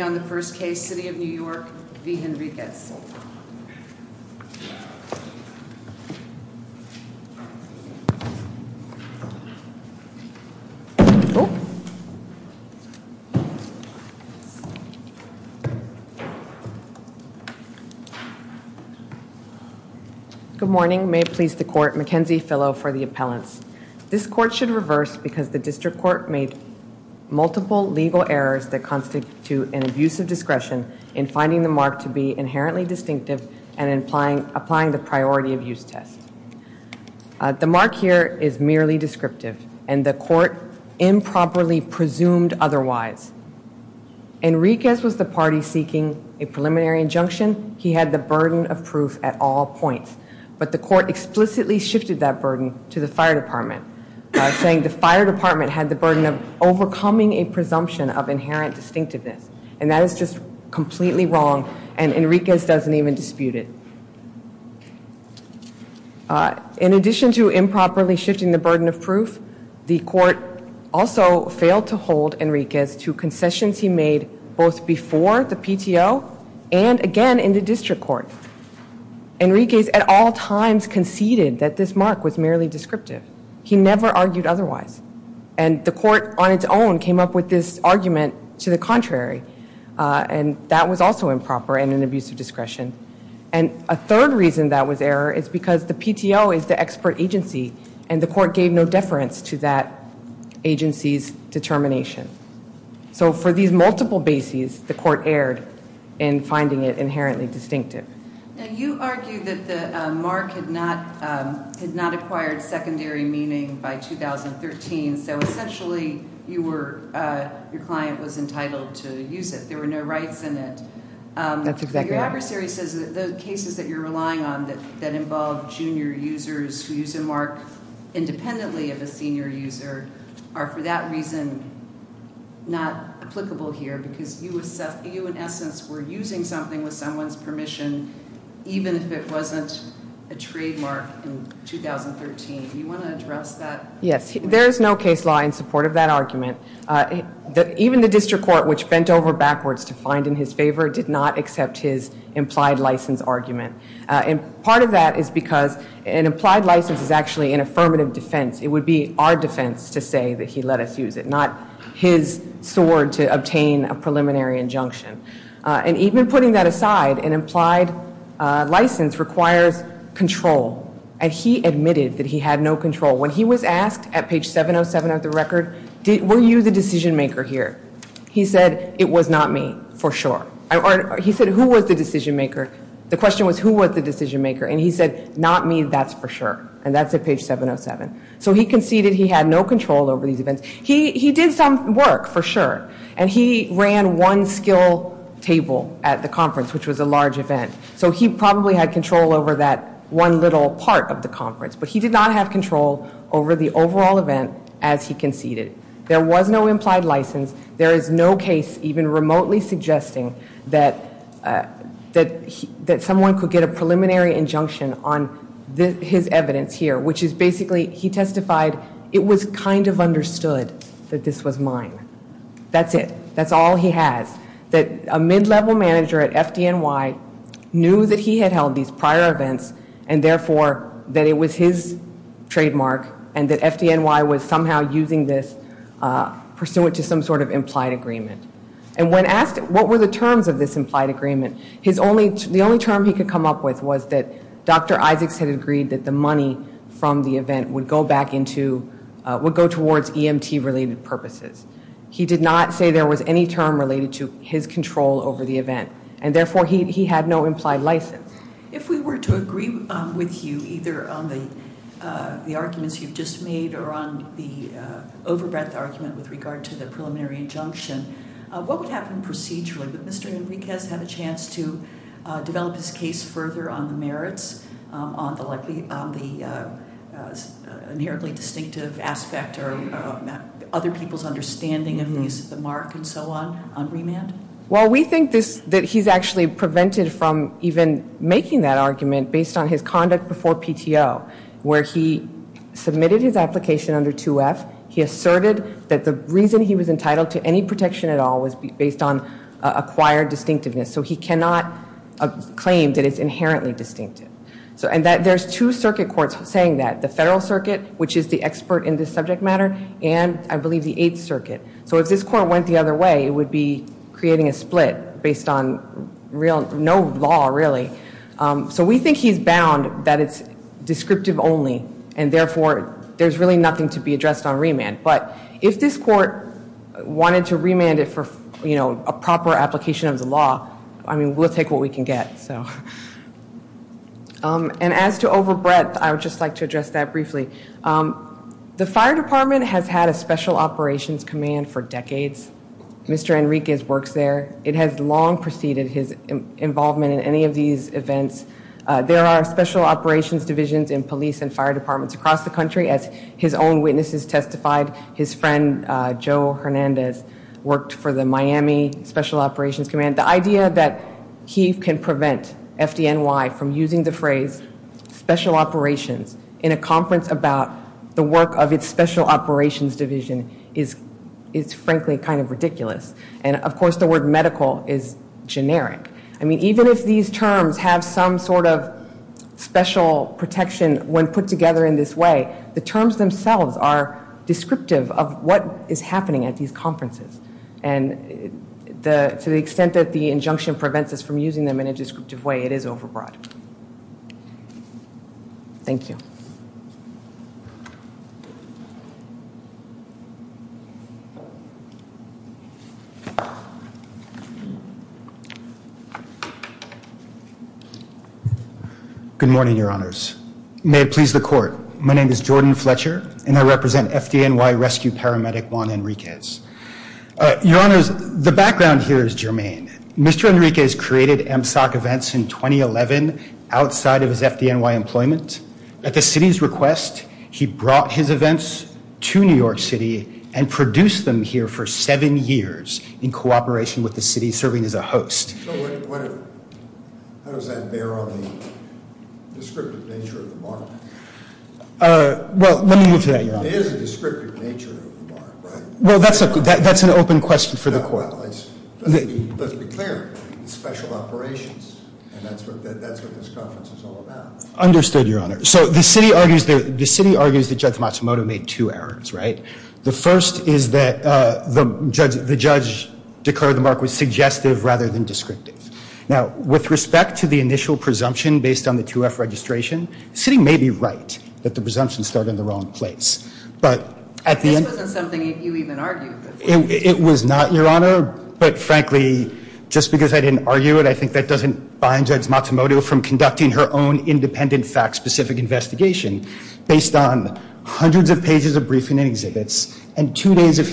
Good morning. May it please the court, Mackenzie Fillo for the appellants. This court should use of discretion in finding the mark to be inherently distinctive and applying the priority of use test. The mark here is merely descriptive and the court improperly presumed otherwise. Henriquez was the party seeking a preliminary injunction. He had the burden of proof at all points, but the court explicitly shifted that burden to the fire department, saying the fire department had the burden of overcoming a presumption of inherent distinctiveness and that is just completely wrong and Henriquez doesn't even dispute it. In addition to improperly shifting the burden of proof, the court also failed to hold Henriquez to concessions he made both before the PTO and again in the district court. Henriquez at all times conceded that this mark was merely descriptive. He never argued otherwise and the court on its own came up with this argument to the contrary and that was also improper and an abuse of discretion. And a third reason that was error is because the PTO is the expert agency and the court gave no deference to that agency's determination. So for these multiple bases, the court erred in finding it inherently distinctive. Now you argue that the mark had not acquired secondary meaning by 2013, so essentially your client was entitled to use it. There were no rights in it. Your adversary says the cases that you're relying on that involve junior users who use a mark independently of a senior user are for that reason not applicable here because you in essence were using something with someone's permission even if it wasn't a trademark in 2013. Do you want to address that? Yes. There is no case law in support of that argument. Even the district court which bent over backwards to find in his favor did not accept his implied license argument. And part of that is because an implied license is actually an affirmative defense. It would be our defense to say that he let us use it, not his sword to obtain a preliminary injunction. And even putting that aside, an implied license requires control. And he admitted that he had no control. When he was asked at page 707 of the record, were you the decision maker here? He said, it was not me for sure. He said, who was the decision maker? The question was who was the decision maker? And he said, not me, that's for sure. And that's at page 707. So he conceded he had no control over these events. He did some work for sure. And he ran one skill table at the conference, which was a large event. So he probably had control over that one little part of the conference. But he did not have control over the overall event as he conceded. There was no implied license. There is no case even remotely suggesting that someone could get a preliminary injunction on his evidence here, which is basically, he testified, it was kind of understood that this was mine. That's it. That's all he has. That a mid-level manager at FDNY knew that he had held these prior events and therefore that it was his trademark and that FDNY was somehow using this pursuant to some sort of implied agreement. And when asked what were the terms of this implied agreement, his only, the only term he could come up with was that Dr. Isaacs had agreed that the money from the event would go back into, would go towards EMT related purposes. He did not say there was any term related to his control over the event. And therefore he had no implied license. If we were to agree with you either on the arguments you've just made or on the over-breath argument with regard to the preliminary injunction, what would happen procedurally? Would Mr. Enriquez have a chance to develop his case further on the merits, on the likely, on the inherently distinctive aspect or other people's understanding of the use of the mark and so on, on remand? Well, we think this, that he's actually prevented from even making that argument based on his conduct before PTO, where he submitted his application under 2F. He asserted that the reason he was entitled to any And that there's two circuit courts saying that, the Federal Circuit, which is the expert in this subject matter, and I believe the Eighth Circuit. So if this court went the other way, it would be creating a split based on real, no law really. So we think he's bound that it's descriptive only, and therefore there's really nothing to be addressed on remand. But if this court wanted to And as to over-breath, I would just like to address that briefly. The Fire Department has had a Special Operations Command for decades. Mr. Enriquez works there. It has long preceded his involvement in any of these events. There are special operations divisions in police and fire departments across the country, as his own witnesses testified. His friend Joe Hernandez worked for the Miami Special Operations Command. The idea that he can prevent FDNY from using the phrase special operations in a conference about the work of its special operations division is frankly kind of ridiculous. And of course the word medical is generic. I mean even if these terms have some sort of special protection when put together in this way, the terms themselves are And to the extent that the injunction prevents us from using them in a descriptive way, it is over-breath. Thank you. Good morning, your honors. May it please the court. My name is Jordan Fletcher, and I represent Rescue Paramedic Juan Enriquez. Your honors, the background here is germane. Mr. Enriquez created MSOC events in 2011 outside of his FDNY employment. At the city's request, he brought his events to New York City and produced them here for seven years in cooperation with the city, serving as a host. So what, how does that bear on the descriptive nature of the mark? Uh, well let me get to that. It is a descriptive nature of the mark, right? Well that's a good, that's an open question for the court. Let's be clear, it's special operations, and that's what that's what this conference is all about. Understood, your honor. So the city argues that Judge Matsumoto made two errors, right? The first is that the judge declared the mark was suggestive rather than descriptive. Now with respect to the initial presumption based on the 2F registration, the city may be right that the presumptions start in the wrong place, but at the end... This wasn't something you even argued before. It was not, your honor, but frankly just because I didn't argue it, I think that doesn't bind Judge Matsumoto from conducting her own independent fact-specific investigation based on hundreds of pages of briefing and exhibits and two days of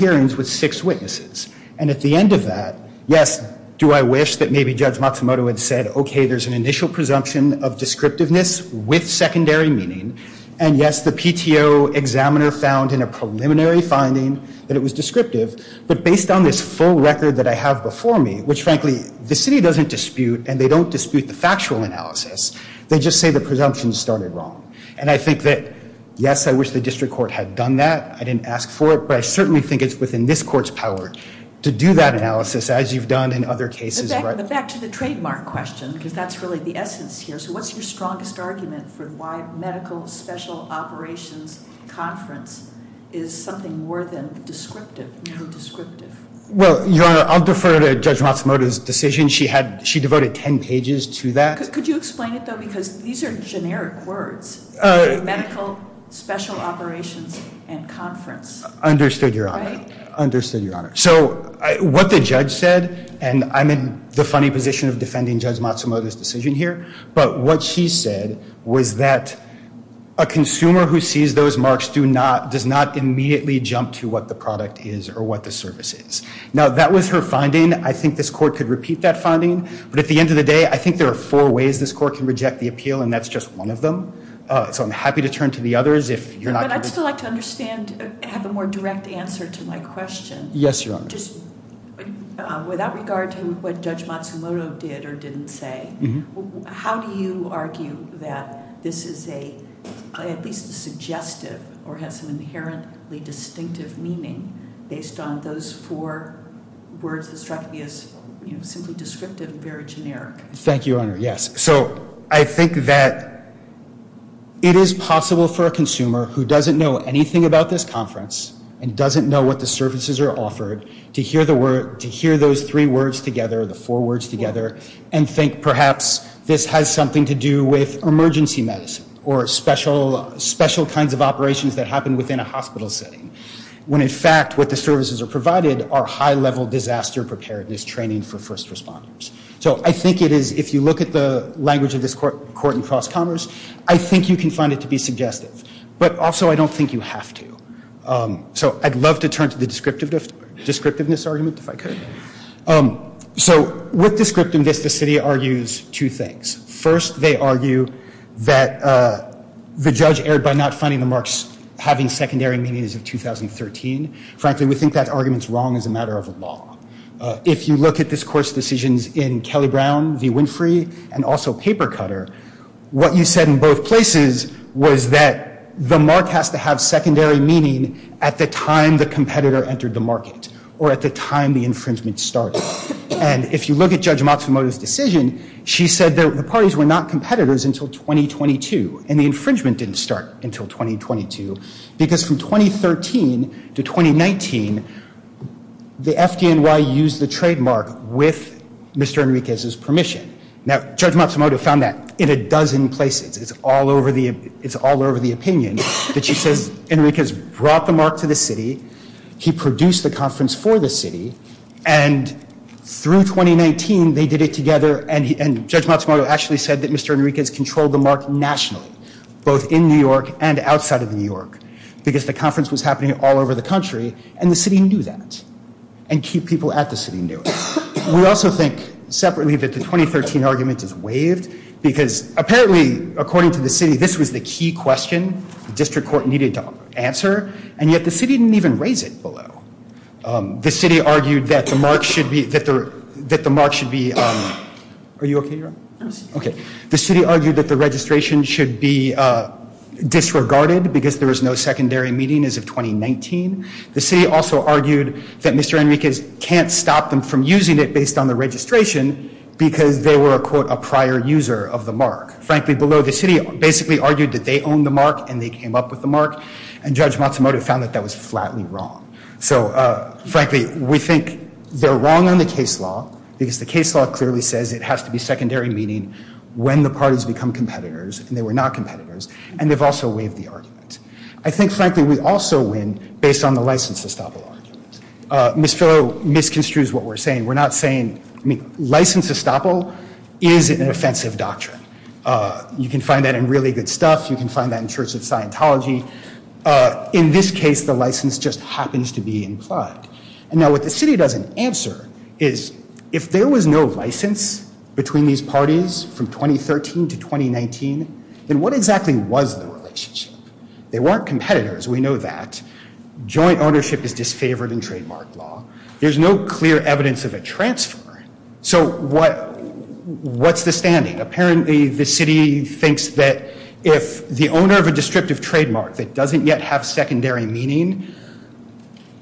I wish that maybe Judge Matsumoto had said, okay there's an initial presumption of descriptiveness with secondary meaning, and yes the PTO examiner found in a preliminary finding that it was descriptive, but based on this full record that I have before me, which frankly the city doesn't dispute, and they don't dispute the factual analysis, they just say the presumptions started wrong. And I think that, yes, I wish the district court had done that. I didn't ask for it, but I Back to the trademark question, because that's really the essence here. So what's your strongest argument for why medical special operations conference is something more than descriptive? Well, your honor, I'll defer to Judge Matsumoto's decision. She devoted 10 pages to that. Could you explain it though, because these are generic words. Medical special operations and the funny position of defending Judge Matsumoto's decision here, but what she said was that a consumer who sees those marks does not immediately jump to what the product is or what the service is. Now that was her finding. I think this court could repeat that finding, but at the end of the day, I think there are four ways this court can reject the appeal, and that's just one of them. So I'm happy to turn to the others. But I'd still like to understand, have a more direct answer to my Matsumoto did or didn't say. How do you argue that this is at least suggestive or has some inherently distinctive meaning based on those four words that struck me as simply descriptive and very generic? Thank you, your honor. Yes, so I think that it is possible for a consumer who doesn't know anything about this conference and doesn't know what the services are offered to hear the word, to hear those three words together, the four words together, and think perhaps this has something to do with emergency medicine or special kinds of operations that happen within a hospital setting, when in fact what the services are provided are high-level disaster preparedness training for first responders. So I think it is, if you look at the language of this court in cross commerce, I think you can find it to be suggestive, but also I don't think you have to. So I'd love to turn to the descriptiveness argument, if I could. So with descriptiveness, the city argues two things. First, they argue that the judge erred by not finding the marks having secondary meanings of 2013. Frankly, we think that argument's wrong as a matter of law. If you look at this court's decisions in Kelly-Brown v. Winfrey and also in Papercutter, what you said in both places was that the mark has to have secondary meaning at the time the competitor entered the market or at the time the infringement started. And if you look at Judge Matsumoto's decision, she said that the parties were not competitors until 2022, and the infringement didn't start until 2022, because from 2013 to 2019, the FDNY used the dozen places, it's all over the opinion, that she says Enriquez brought the mark to the city, he produced the conference for the city, and through 2019, they did it together, and Judge Matsumoto actually said that Mr. Enriquez controlled the mark nationally, both in New York and outside of New York, because the conference was happening all over the country, and the city knew that, and key people at the city knew it. We also think separately that the 2013 argument is waived, because apparently, according to the city, this was the key question the district court needed to answer, and yet the city didn't even raise it below. The city argued that the mark should be, that the mark should be, are you okay, Your Honor? I'm okay. The city argued that the registration should be disregarded, because there was no secondary meaning as of 2019. The city also argued that Mr. Enriquez can't stop them from using it based on the registration, because they were a, quote, a prior user of the mark. Frankly, below the city, basically argued that they owned the mark, and they came up with the mark, and Judge Matsumoto found that that was flatly wrong. So, frankly, we think they're wrong on the case law, because the case law clearly says it has to be secondary, meaning when the parties become competitors, and they were not competitors, and they've also waived the argument. I think, frankly, we also win based on the license to estoppel is an offensive doctrine. You can find that in Really Good Stuff, you can find that in Church of Scientology. In this case, the license just happens to be implied. And now, what the city doesn't answer is, if there was no license between these parties from 2013 to 2019, then what exactly was the relationship? They weren't competitors, we know that. Joint ownership is what, what's the standing? Apparently, the city thinks that if the owner of a descriptive trademark that doesn't yet have secondary meaning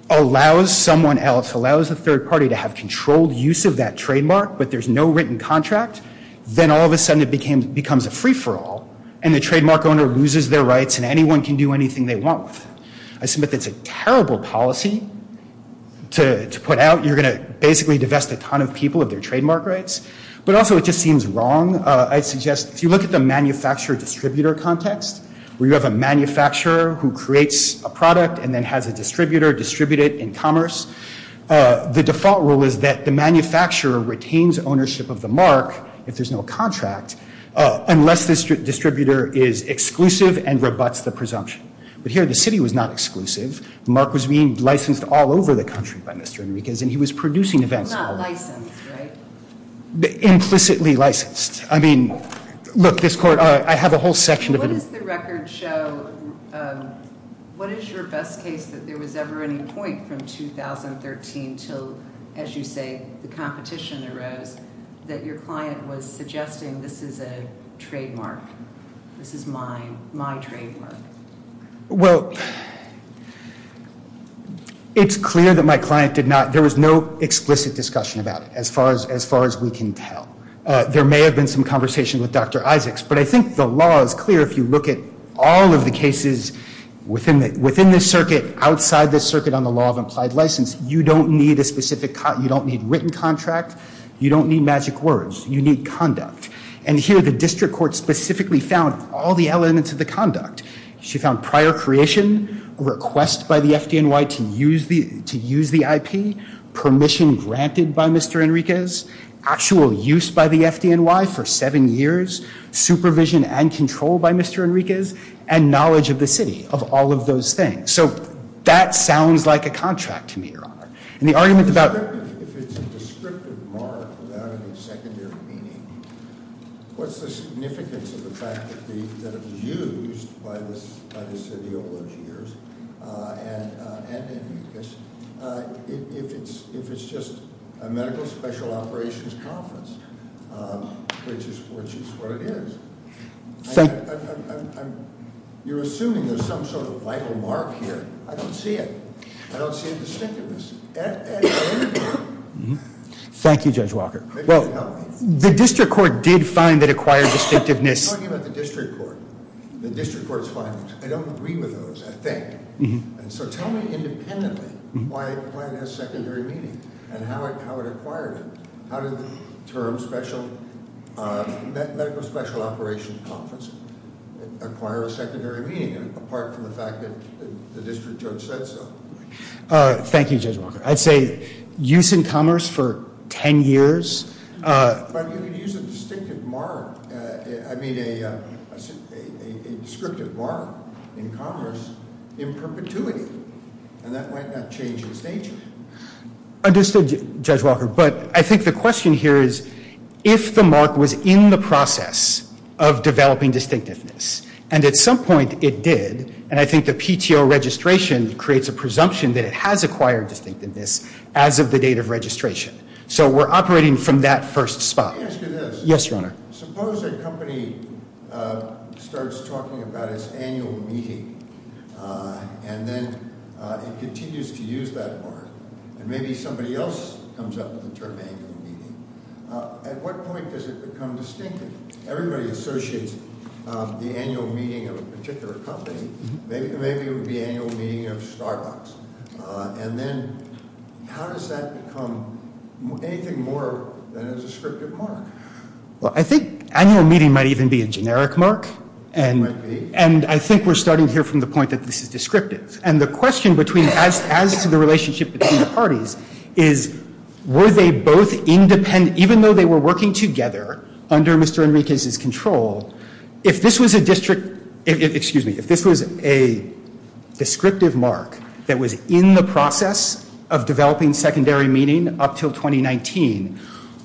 allows someone else, allows the third party to have controlled use of that trademark, but there's no written contract, then all of a sudden, it becomes a free-for-all, and the trademark owner loses their rights, and anyone can do anything they want with it. I submit that's a terrible policy to put out. You're going to basically divest a ton of people of their trademark rights. But also, it just seems wrong. I suggest, if you look at the manufacturer-distributor context, where you have a manufacturer who creates a product and then has a distributor distribute it in commerce, the default rule is that the manufacturer retains ownership of the mark, if there's no contract, unless this distributor is exclusive and rebuts the presumption. But here, the city was not exclusive. The mark was being licensed all over the country by Mr. Enriquez, and he was producing events. Not licensed, right? Implicitly licensed. I mean, look, this court, I have a whole section of it. What does the record show, what is your best case that there was ever any point from 2013 till, as you say, the competition arose, that your client was suggesting this is a trademark, this is my trademark? Well, it's clear that my client did not, there was no explicit discussion about it, as far as we can tell. There may have been some conversation with Dr. Isaacs, but I think the law is clear if you look at all of the cases within this circuit, outside this circuit on the law of implied license, you don't need a specific, you don't need written contract, you don't need magic words, you need conduct. And here, the district court specifically found all the elements of the conduct. She found prior creation, request by the FDNY to use the IP, permission granted by Mr. Enriquez, actual use by the FDNY for seven years, supervision and control by Mr. Enriquez, and knowledge of the city, of all of those things. So that sounds like a contract to me, and the argument about- If it's a descriptive mark without any secondary meaning, what's the significance of the fact that it was used by the city over the years, and Enriquez, if it's just a medical special operations conference, which is what it is. You're assuming there's some sort of vital mark here. I don't see it. I don't see a distinctiveness. Thank you, Judge Walker. Well, the district court did find that acquired distinctiveness- I'm talking about the district court. The district court's findings. I don't agree with those, I think. And so tell me independently why it has secondary meaning, and how it acquired it. How did the term special, medical special operations conference, acquire a secondary meaning, apart from the fact that the district judge said so? Thank you, Judge Walker. I'd say use in commerce for 10 years. But you could use a distinctive mark. I mean a descriptive mark in commerce in perpetuity, and that might not change its nature. Understood, Judge Walker, but I think the question here is if the mark was in the process of developing distinctiveness, and at some point it did, and I think the PTO registration creates a presumption that it has acquired distinctiveness as of the date of registration. So we're operating from that first spot. Yes, Your Honor. Suppose a company starts talking about its annual meeting, and then it continues to use that mark, and maybe somebody else comes up with the term annual meeting. At what point does it become distinctive? Everybody associates the annual meeting of a particular company. Maybe it would be annual meeting of Starbucks. And then how does that become anything more than a descriptive mark? Well, I think annual meeting might even be a generic mark. It might be. And I think we're starting here from the point that this is descriptive. And the question as to the relationship between the parties is were they both independent, even though they were working together under Mr. Enriquez's control, if this was a district, excuse me, if this was a descriptive mark that was in the process of developing secondary meeting up till 2019,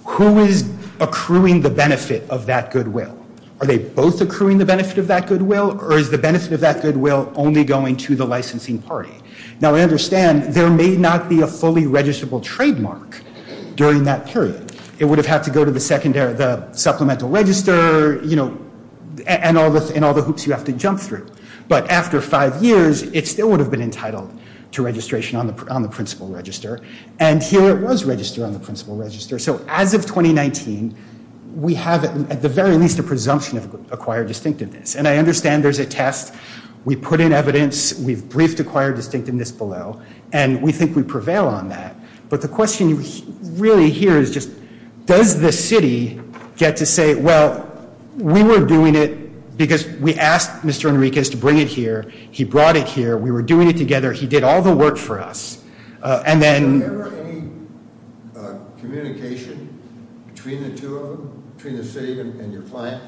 who is accruing the benefit of that goodwill? Are they both accruing the benefit of that goodwill, or is the benefit of that goodwill only going to the licensing party? Now, I understand there may not be a fully registrable trademark during that period. It would have had to go to the supplemental register, and all the hoops you have to jump through. But after five years, it still would have been entitled to registration on the principal register. And here it was registered on the principal register. So as of 2019, we have at the very least a presumption of acquired distinctiveness. And I understand there's a test. We put in evidence. We've briefed distinctiveness below, and we think we prevail on that. But the question really here is just, does the city get to say, well, we were doing it because we asked Mr. Enriquez to bring it here. He brought it here. We were doing it together. He did all the work for us. And then... Were there any communication between the two of them, between the city and your client,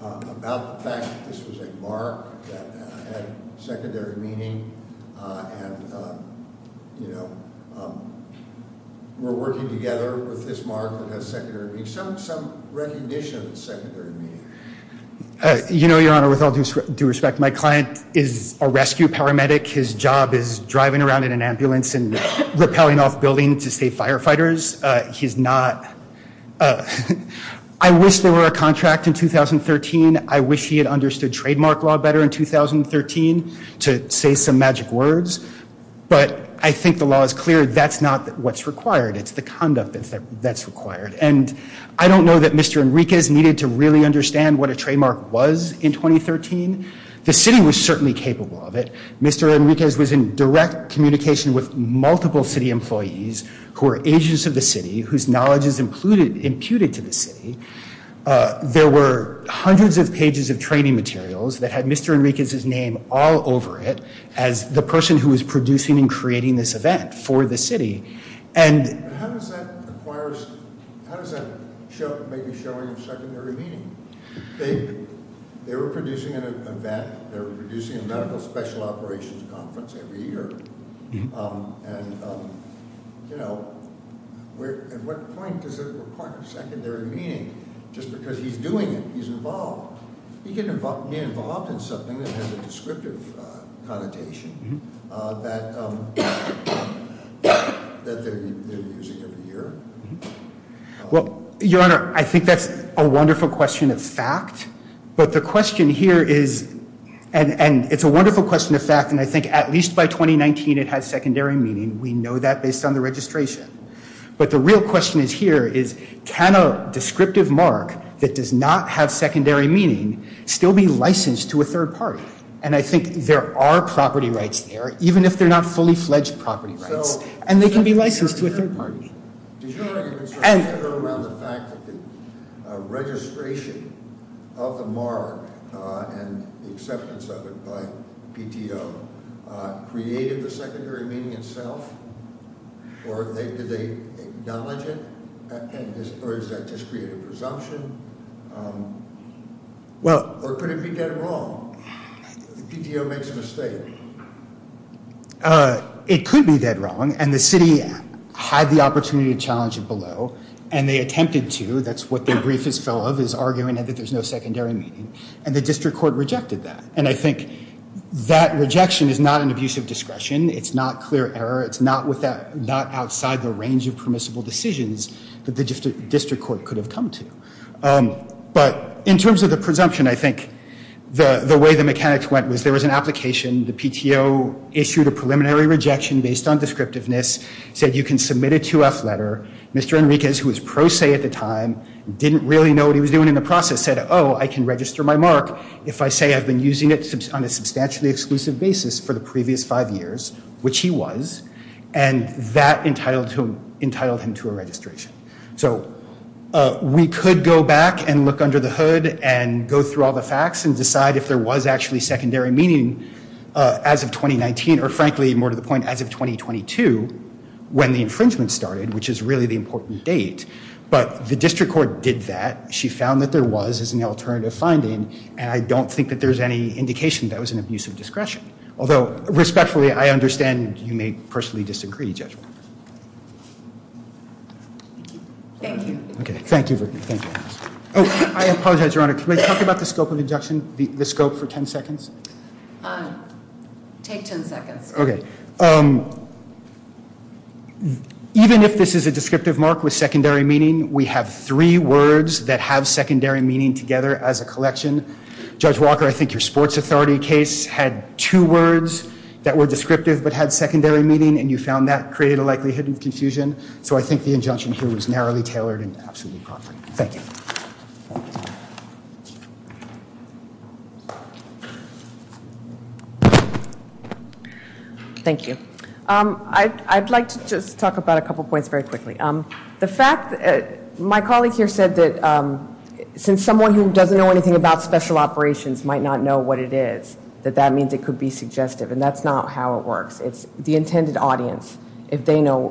about the fact that this was a mark that had secondary meaning, and we're working together with this mark that has secondary meaning, some recognition of secondary meaning? Your Honor, with all due respect, my client is a rescue paramedic. His job is driving around in an ambulance and rappelling off buildings to save firefighters. He's not... I wish there were a contract in 2013. I wish he had understood trademark law better in 2013 to say some magic words. But I think the law is clear. That's not what's required. It's the conduct that's required. And I don't know that Mr. Enriquez needed to really understand what a trademark was in 2013. The city was certainly capable of it. Mr. Enriquez was in direct communication with multiple city employees who are agents of the city, whose knowledge is in the city. There were hundreds of pages of training materials that had Mr. Enriquez's name all over it, as the person who was producing and creating this event for the city. And... But how does that acquire... How does that show, maybe, showing a secondary meaning? They were producing an event. They were producing a medical special operations conference every year. And, you know, at what point does it require a secondary meaning? Just because he's doing it, he's involved. He can get involved in something that has a descriptive connotation that they're using every year. Well, Your Honor, I think that's a wonderful question of fact. But the question here is, and it's a wonderful question of fact, and I think at least by 2019, it had secondary meaning. We know that based on the registration. But the real question here is, can a descriptive mark that does not have secondary meaning still be licensed to a third party? And I think there are property rights there, even if they're not fully-fledged property rights. And they can be licensed to a third party. Did you have any concerns around the fact that the registration of the mark and the acceptance of it by PTO created the secondary meaning itself? Or did they acknowledge it? Or is that just creative presumption? Or could it be dead wrong? If the PTO makes a mistake? It could be dead wrong. And the city had the opportunity to challenge it below. And they attempted to. That's what the brief is full of, is arguing that there's no secondary meaning. And the district court rejected that. And I think that rejection is not an abuse of discretion. It's not clear error. It's not outside the range of permissible decisions that the district court could have come to. But in terms of the presumption, I think the way the mechanics went was there was an application. The PTO issued a preliminary rejection based on descriptiveness, said you can submit a 2-F letter. Mr. Enriquez, who was pro se at the time, didn't really know what he was doing in the process, said, oh, I can register my mark if I say I've been using it on a substantially exclusive basis for the previous five years, which he was. And that entitled him to a registration. So we could go back and look under the hood and go through all the facts and decide if there was actually secondary meaning as of 2019, or frankly, more to the point, as of 2022, when the infringement started, which is really the important date. But the district court did that. She found that there was as an alternative finding. And I don't think that there's any indication that it was an abuse of discretion. Although, respectfully, I understand you may personally disagree, Judge Walker. Thank you. Okay. Thank you. Oh, I apologize, Your Honor. Can we talk about the scope of injunction, the scope for 10 seconds? Take 10 seconds. Okay. Even if this is a descriptive mark with secondary meaning, we have three words that have secondary meaning together as a two words that were descriptive, but had secondary meaning, and you found that created a likelihood of confusion. So I think the injunction here was narrowly tailored and absolutely proper. Thank you. Thank you. I'd like to just talk about a couple points very quickly. The fact, my colleague here said that since someone who doesn't know anything about special operations might not know what it is, that that means it could be suggestive, and that's not how it works. It's the intended audience, if they know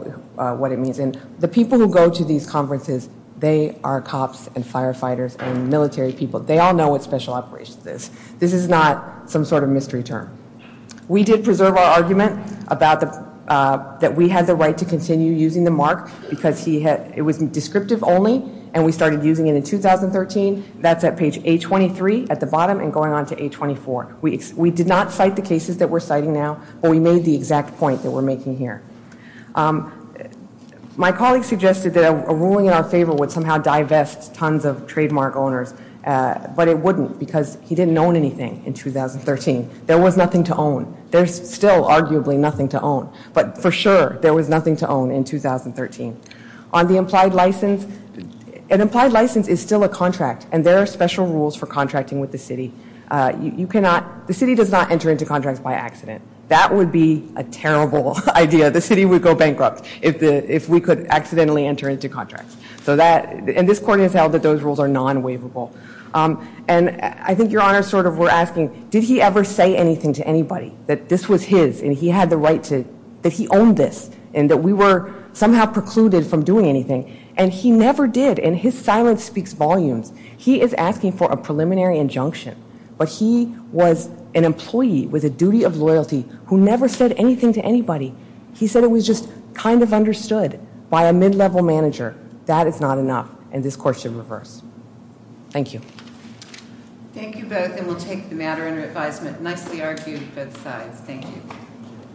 what it means. And the people who go to these conferences, they are cops and firefighters and military people. They all know what special operations is. This is not some sort of mystery term. We did preserve our argument about the, that we had the right to continue using the mark because he had, it was descriptive only, and we started using it in 2013. That's at page A23 at the bottom and going on to A24. We did not cite the cases that we're citing now, but we made the exact point that we're making here. My colleague suggested that a ruling in our favor would somehow divest tons of trademark owners, but it wouldn't because he didn't own anything in 2013. There was nothing to own. There's still arguably nothing to own, but for sure there was nothing to own in 2013. On the implied license, an implied license is still a contract, and there are special rules for contracting with the city. You cannot, the city does not enter into contracts by accident. That would be a terrible idea. The city would go bankrupt if the, if we could accidentally enter into contracts. So that, and this court has held that those rules are non-waivable. And I think your honor sort of were asking, did he ever say anything to anybody that this was his and he had the right to, that he owned this, and that we were somehow precluded from doing anything. And he never did, and his silence speaks volumes. He is asking for a preliminary injunction, but he was an employee with a duty of loyalty who never said anything to anybody. He said it was just kind of understood by a mid-level manager. That is not enough, and this court should reverse. Thank you. Thank you both, and we'll take the matter under advisement. Nicely argued, both sides. Thank you.